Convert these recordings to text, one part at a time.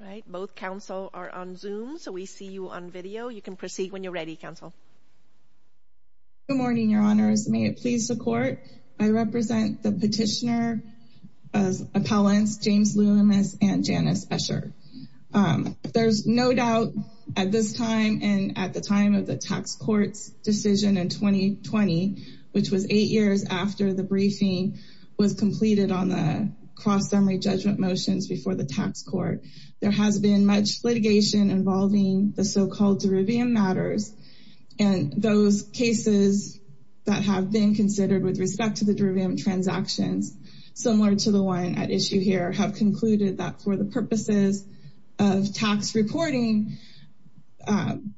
Right both counsel are on zoom. So we see you on video. You can proceed when you're ready counsel Good morning, your honors. May it please the court. I represent the petitioner appellants James Loomis and Janice Escher There's no doubt at this time and at the time of the tax courts decision in 2020 which was eight years after the briefing was completed on the cross-summary judgment motions before the tax court. There has been much litigation involving the so-called derivium matters and those cases That have been considered with respect to the derivium transactions Similar to the one at issue here have concluded that for the purposes of tax reporting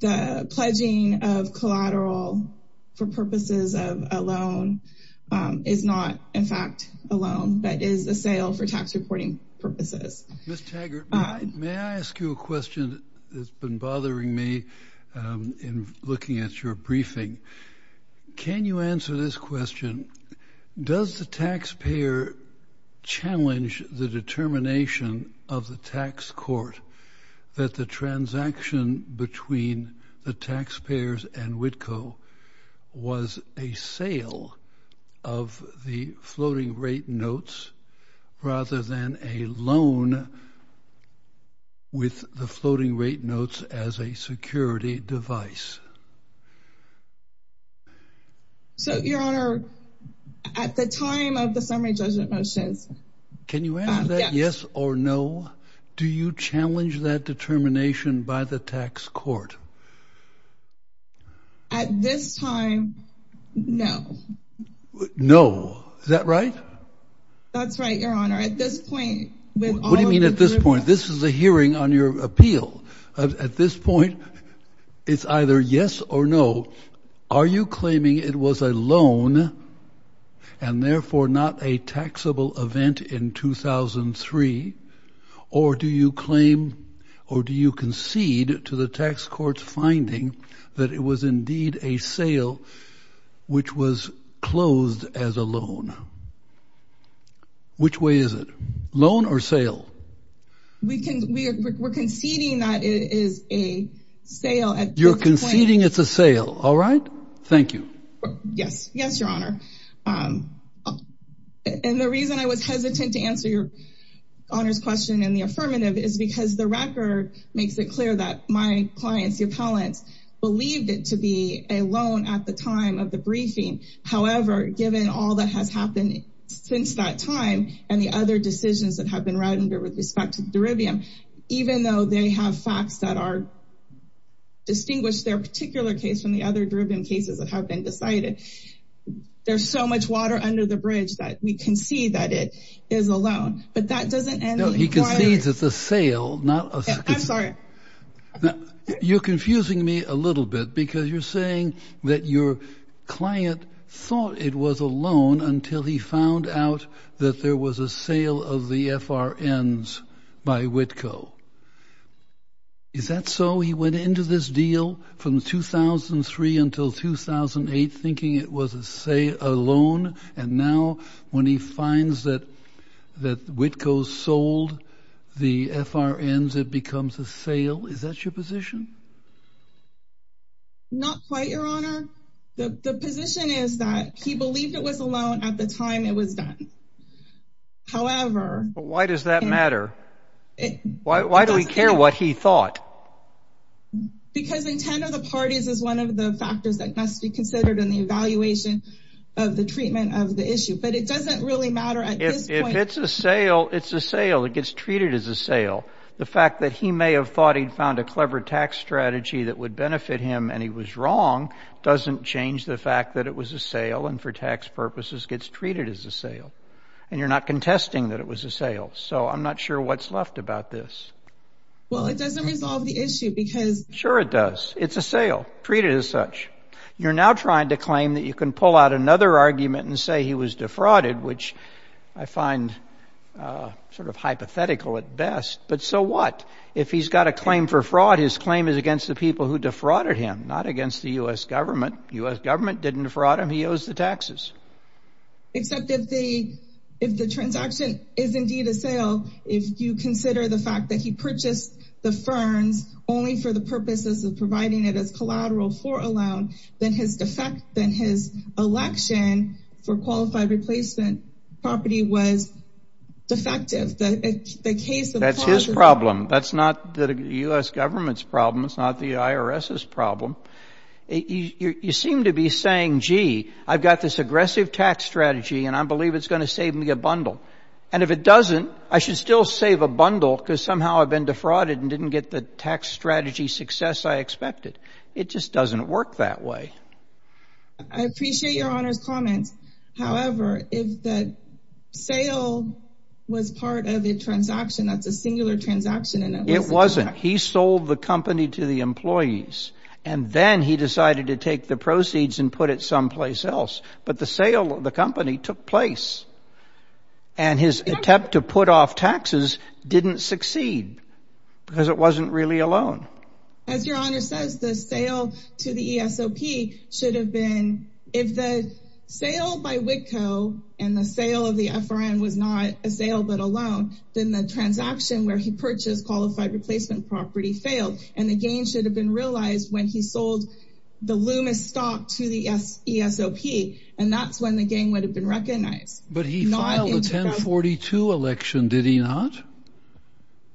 the pledging of collateral for purposes of a loan Is not in fact a loan that is a sale for tax reporting purposes May I ask you a question that's been bothering me In looking at your briefing Can you answer this question? Does the taxpayer? challenge the determination of the tax court that the transaction between the taxpayers and Whitco Was a sale of the floating rate notes rather than a loan With the floating rate notes as a security device So your honor At the time of the summary judgment motions. Can you answer that? Yes or no? Do you challenge that determination by the tax court? At this time No No, is that right? That's right. Your honor at this point. What do you mean at this point? This is a hearing on your appeal at this point It's either yes or no. Are you claiming it was a loan and therefore not a taxable event in 2003 or Do you claim or do you concede to the tax court's finding that it was indeed a sale? Which was closed as a loan Which way is it loan or sale? we can we're conceding that it is a Sale at you're conceding. It's a sale. All right. Thank you. Yes. Yes, your honor And The reason I was hesitant to answer your Honor's question and the affirmative is because the record makes it clear that my clients the appellants Believed it to be a loan at the time of the briefing However, given all that has happened since that time and the other decisions that have been read under with respect to the Derivium even though they have facts that are Distinguished their particular case from the other driven cases that have been decided There's so much water under the bridge that we can see that it is alone, but that doesn't and he concedes it's a sale No, I'm sorry You're confusing me a little bit because you're saying that your Client thought it was a loan until he found out that there was a sale of the FRN's by WITCO Is that so he went into this deal from? 2003 until 2008 thinking it was a say alone and now when he finds that That WITCO sold the FRN's it becomes a sale. Is that your position? Not quite your honor the position is that he believed it was alone at the time it was done However, why does that matter? Why do we care what he thought? Because in 10 of the parties is one of the factors that must be considered in the evaluation of the treatment of the issue But it doesn't really matter if it's a sale. It's a sale It gets treated as a sale the fact that he may have thought he'd found a clever tax strategy that would benefit him and he was Wrong doesn't change the fact that it was a sale and for tax purposes gets treated as a sale And you're not contesting that it was a sale. So I'm not sure what's left about this Well, it doesn't resolve the issue because sure it does it's a sale treat it as such You're now trying to claim that you can pull out another argument and say he was defrauded which I find Sort of hypothetical at best But so what if he's got a claim for fraud his claim is against the people who defrauded him not against the US government US government didn't defraud him. He owes the taxes Except if they if the transaction is indeed a sale if you consider the fact that he purchased the ferns only for the purposes of providing it as collateral for a loan then his defect then his election for qualified replacement property was Defective the case that's his problem. That's not the US government's problem. It's not the IRS's problem You seem to be saying gee I've got this aggressive tax strategy and I believe it's going to save me a bundle and if it doesn't I should still save a bundle because somehow I've been defrauded and didn't get the tax strategy success. I expected it just doesn't work that way I appreciate your honors comments. However, if the sale Was part of a transaction that's a singular transaction and it wasn't he sold the company to the employees and then he decided to take the proceeds and put it someplace else, but the sale of the company took place and His attempt to put off taxes didn't succeed Because it wasn't really alone as your honor says the sale to the ESOP should have been if the Sale by WITCO and the sale of the FRN was not a sale Then the transaction where he purchased qualified replacement property failed and the game should have been realized when he sold the Loomis stock to the ESOP and that's when the game would have been recognized, but he 1042 election did he not?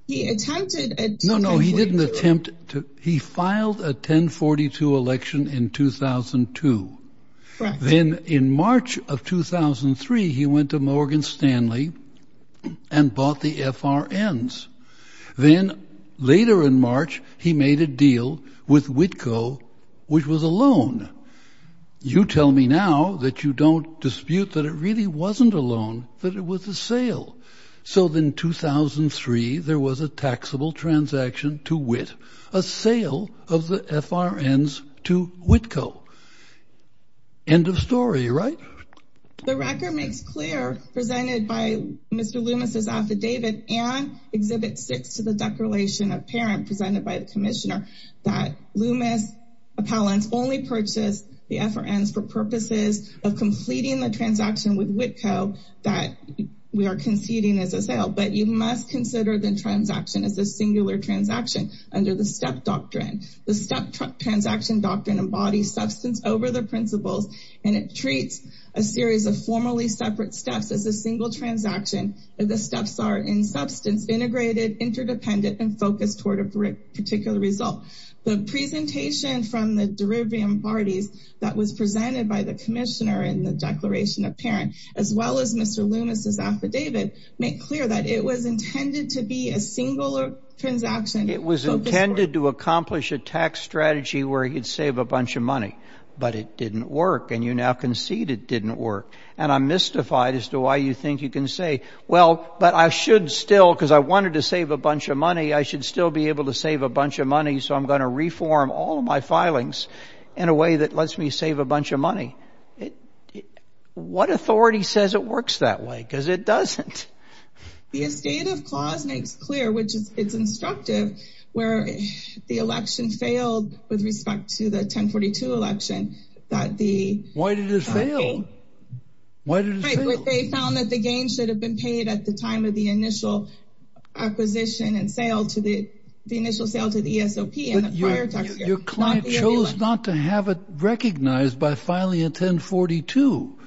He attempted no. No, he didn't attempt to he filed a 1042 election in 2002 then in March of 2003 he went to Morgan Stanley And bought the FRNs Then later in March he made a deal with WITCO which was a loan You tell me now that you don't dispute that it really wasn't a loan that it was a sale So then 2003 there was a taxable transaction to WIT a sale of the FRNs to WITCO End of story, right? The record makes clear presented by mr. Loomis's affidavit and exhibit six to the declaration of parent presented by the commissioner that Loomis Appellants only purchased the FRNs for purposes of completing the transaction with WITCO that We are conceding as a sale But you must consider the transaction as a singular transaction under the step doctrine the step Transaction doctrine embodies substance over the principles and it treats a series of formally separate steps as a single transaction The steps are in substance integrated interdependent and focused toward a brick particular result the presentation From the derivium parties that was presented by the commissioner in the declaration of parent as well as mr Loomis's affidavit make clear that it was intended to be a singular Transaction it was intended to accomplish a tax strategy where he'd save a bunch of money But it didn't work and you now concede it didn't work and I'm mystified as to why you think you can say well But I should still because I wanted to save a bunch of money I should still be able to save a bunch of money So I'm going to reform all of my filings in a way that lets me save a bunch of money What authority says it works that way because it doesn't Clear which is it's instructive where the election failed with respect to the 1042 election that the Why did they found that the gain should have been paid at the time of the initial Acquisition and sale to the the initial sale to the ESOP and your client chose not to have it recognized by filing a 1042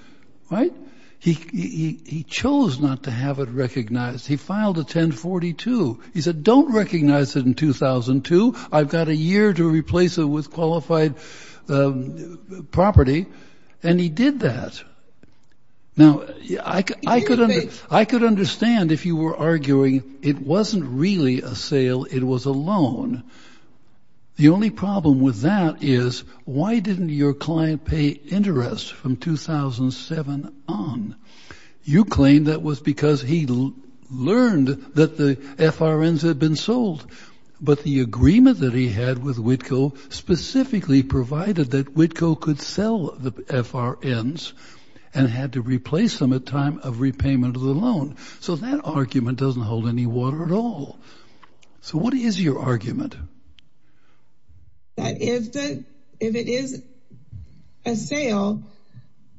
Right he Chose not to have it recognized. He filed a 1042. He said don't recognize it in 2002 I've got a year to replace it with qualified Property and he did that Now, yeah, I could I could understand if you were arguing it wasn't really a sale. It was a loan The only problem with that is why didn't your client pay interest from 2007 on You claimed that was because he learned that the FRN's had been sold But the agreement that he had with WITCO Specifically provided that WITCO could sell the FRN's and had to replace them at time of repayment of the loan So that argument doesn't hold any water at all So, what is your argument That if that if it is a sale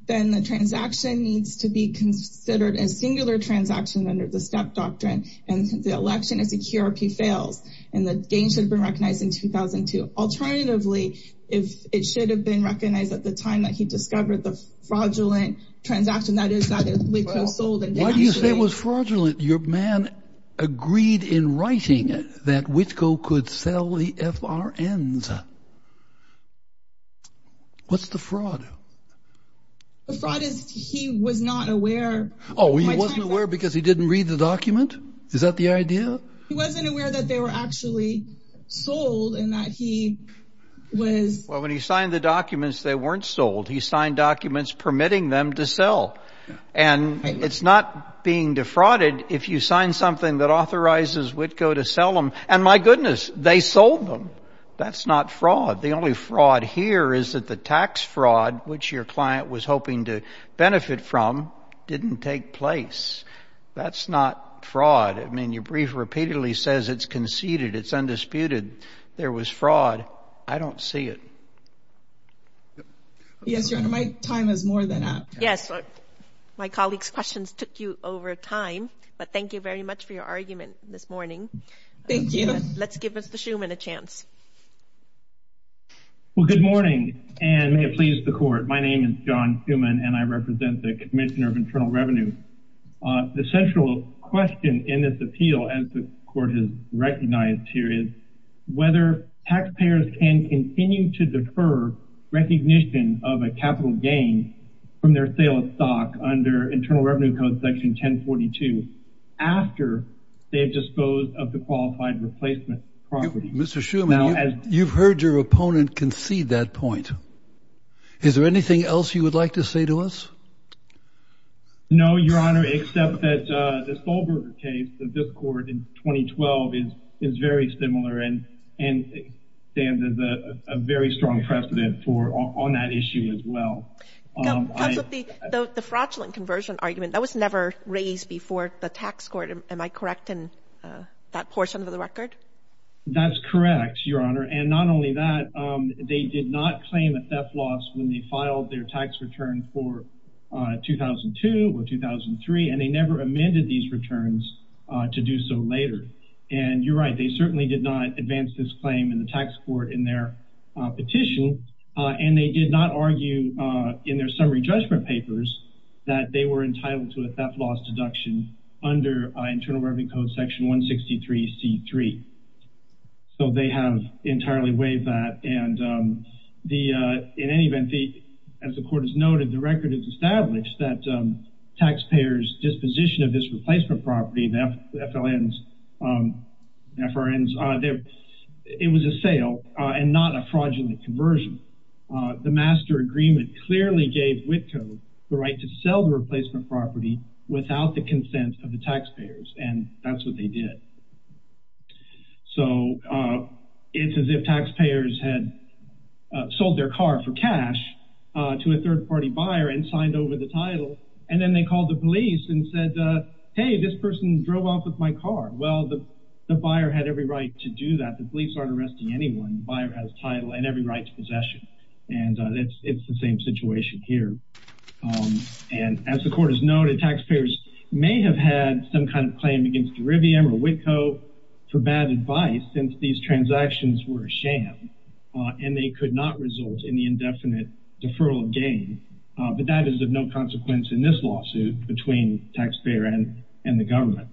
then the transaction needs to be considered a singular transaction under the step doctrine and The election is a QRP fails and the game should have been recognized in 2002 Alternatively if it should have been recognized at the time that he discovered the fraudulent transaction That is that it was sold and why do you say it was fraudulent your man? Agreed in writing it that WITCO could sell the FRN's What's the fraud He was not aware, oh he wasn't aware because he didn't read the document is that the idea He wasn't aware that they were actually sold and that he was well when he signed the documents they weren't sold he signed documents permitting them to sell and It's not being defrauded if you sign something that authorizes WITCO to sell them and my goodness they sold them That's not fraud. The only fraud here is that the tax fraud which your client was hoping to benefit from Didn't take place That's not fraud. I mean you brief repeatedly says it's conceded. It's undisputed. There was fraud. I don't see it Yes, your honor my time is more than after yes My colleagues questions took you over time, but thank you very much for your argument this morning. Thank you Let's give us the Schuman a chance Well, good morning and may it please the court my name is John Schuman and I represent the Commissioner of Internal Revenue the central question in this appeal as the court is recognized here is Whether taxpayers can continue to defer Recognition of a capital gain from their sale of stock under Internal Revenue Code section 1042 After they have disposed of the qualified replacement property. Mr. Schuman, you've heard your opponent concede that point Is there anything else you would like to say to us? No, your honor except that the Solberg case of this court in 2012 is is very similar and and Stand as a very strong precedent for on that issue as well The fraudulent conversion argument that was never raised before the tax court am I correct in that portion of the record That's correct, your honor. And not only that they did not claim a theft loss when they filed their tax return for 2002 or 2003 and they never amended these returns to do so later and you're right They certainly did not advance this claim in the tax court in their Petition and they did not argue in their summary judgment papers that they were entitled to a theft loss deduction under Internal Revenue Code section 163 C 3 so they have entirely waived that and the in any event the as the court has noted the record is established that taxpayers disposition of this replacement property the FLN's FRN's there it was a sale and not a fraudulent conversion The master agreement clearly gave WITCO the right to sell the replacement property Without the consent of the taxpayers and that's what they did so it's as if taxpayers had sold their car for cash To a third-party buyer and signed over the title and then they called the police and said hey this person drove off with my car Well, the the buyer had every right to do that The police aren't arresting anyone buyer has title and every right to possession and it's it's the same situation here And as the court is noted taxpayers may have had some kind of claim against Derivium or WITCO For bad advice since these transactions were a sham and they could not result in the indefinite deferral of gain But that is of no consequence in this lawsuit between taxpayer and and the government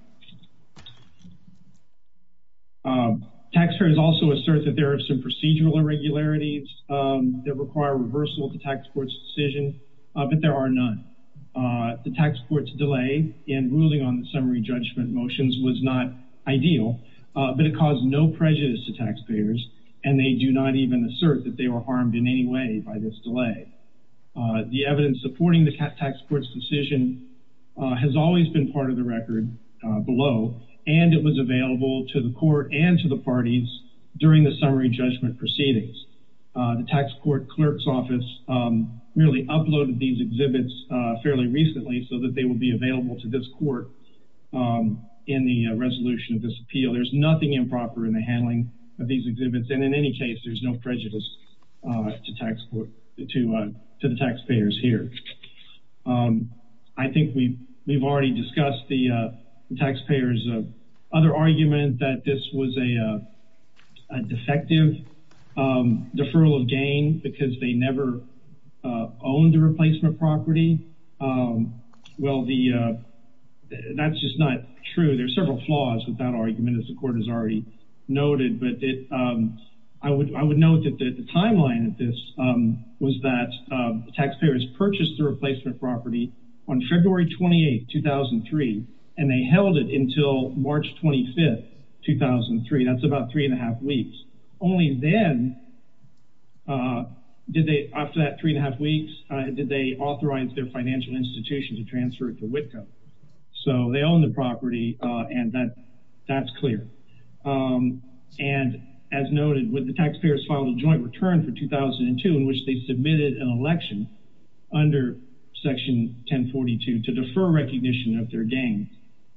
A Taxpayers also assert that there are some procedural irregularities That require reversal to tax courts decision, but there are none The tax courts delay in ruling on the summary judgment motions was not ideal But it caused no prejudice to taxpayers and they do not even assert that they were harmed in any way by this delay The evidence supporting the tax courts decision Has always been part of the record Below and it was available to the court and to the parties during the summary judgment proceedings the tax court clerk's office Really uploaded these exhibits fairly recently so that they will be available to this court In the resolution of this appeal. There's nothing improper in the handling of these exhibits. And in any case, there's no prejudice To tax court to to the taxpayers here I think we we've already discussed the taxpayers other argument that this was a Defective deferral of gain because they never owned the replacement property well the That's just not true. There's several flaws with that argument as the court has already noted But it I would I would note that the timeline at this Was that Taxpayers purchased the replacement property on February 28 2003 and they held it until March 25th 2003 that's about three and a half weeks only then Did they after that three and a half weeks did they authorize their financial institution to transfer it to WITCO So they own the property and that that's clear And as noted with the taxpayers filed a joint return for 2002 in which they submitted an election under section 1042 to defer recognition of their gain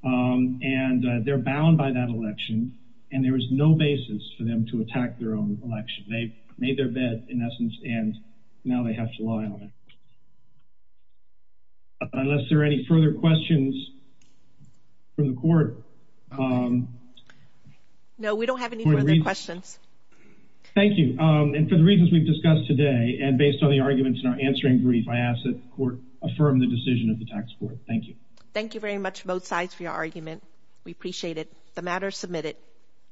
And they're bound by that election and there was no basis for them to attack their own election They made their bed in essence and now they have to lie on it Unless there are any further questions from the court No, we don't have any questions Thank you. And for the reasons we've discussed today and based on the arguments in our answering brief I ask that court affirm the decision of the tax court. Thank you. Thank you very much both sides for your argument We appreciate it the matter submitted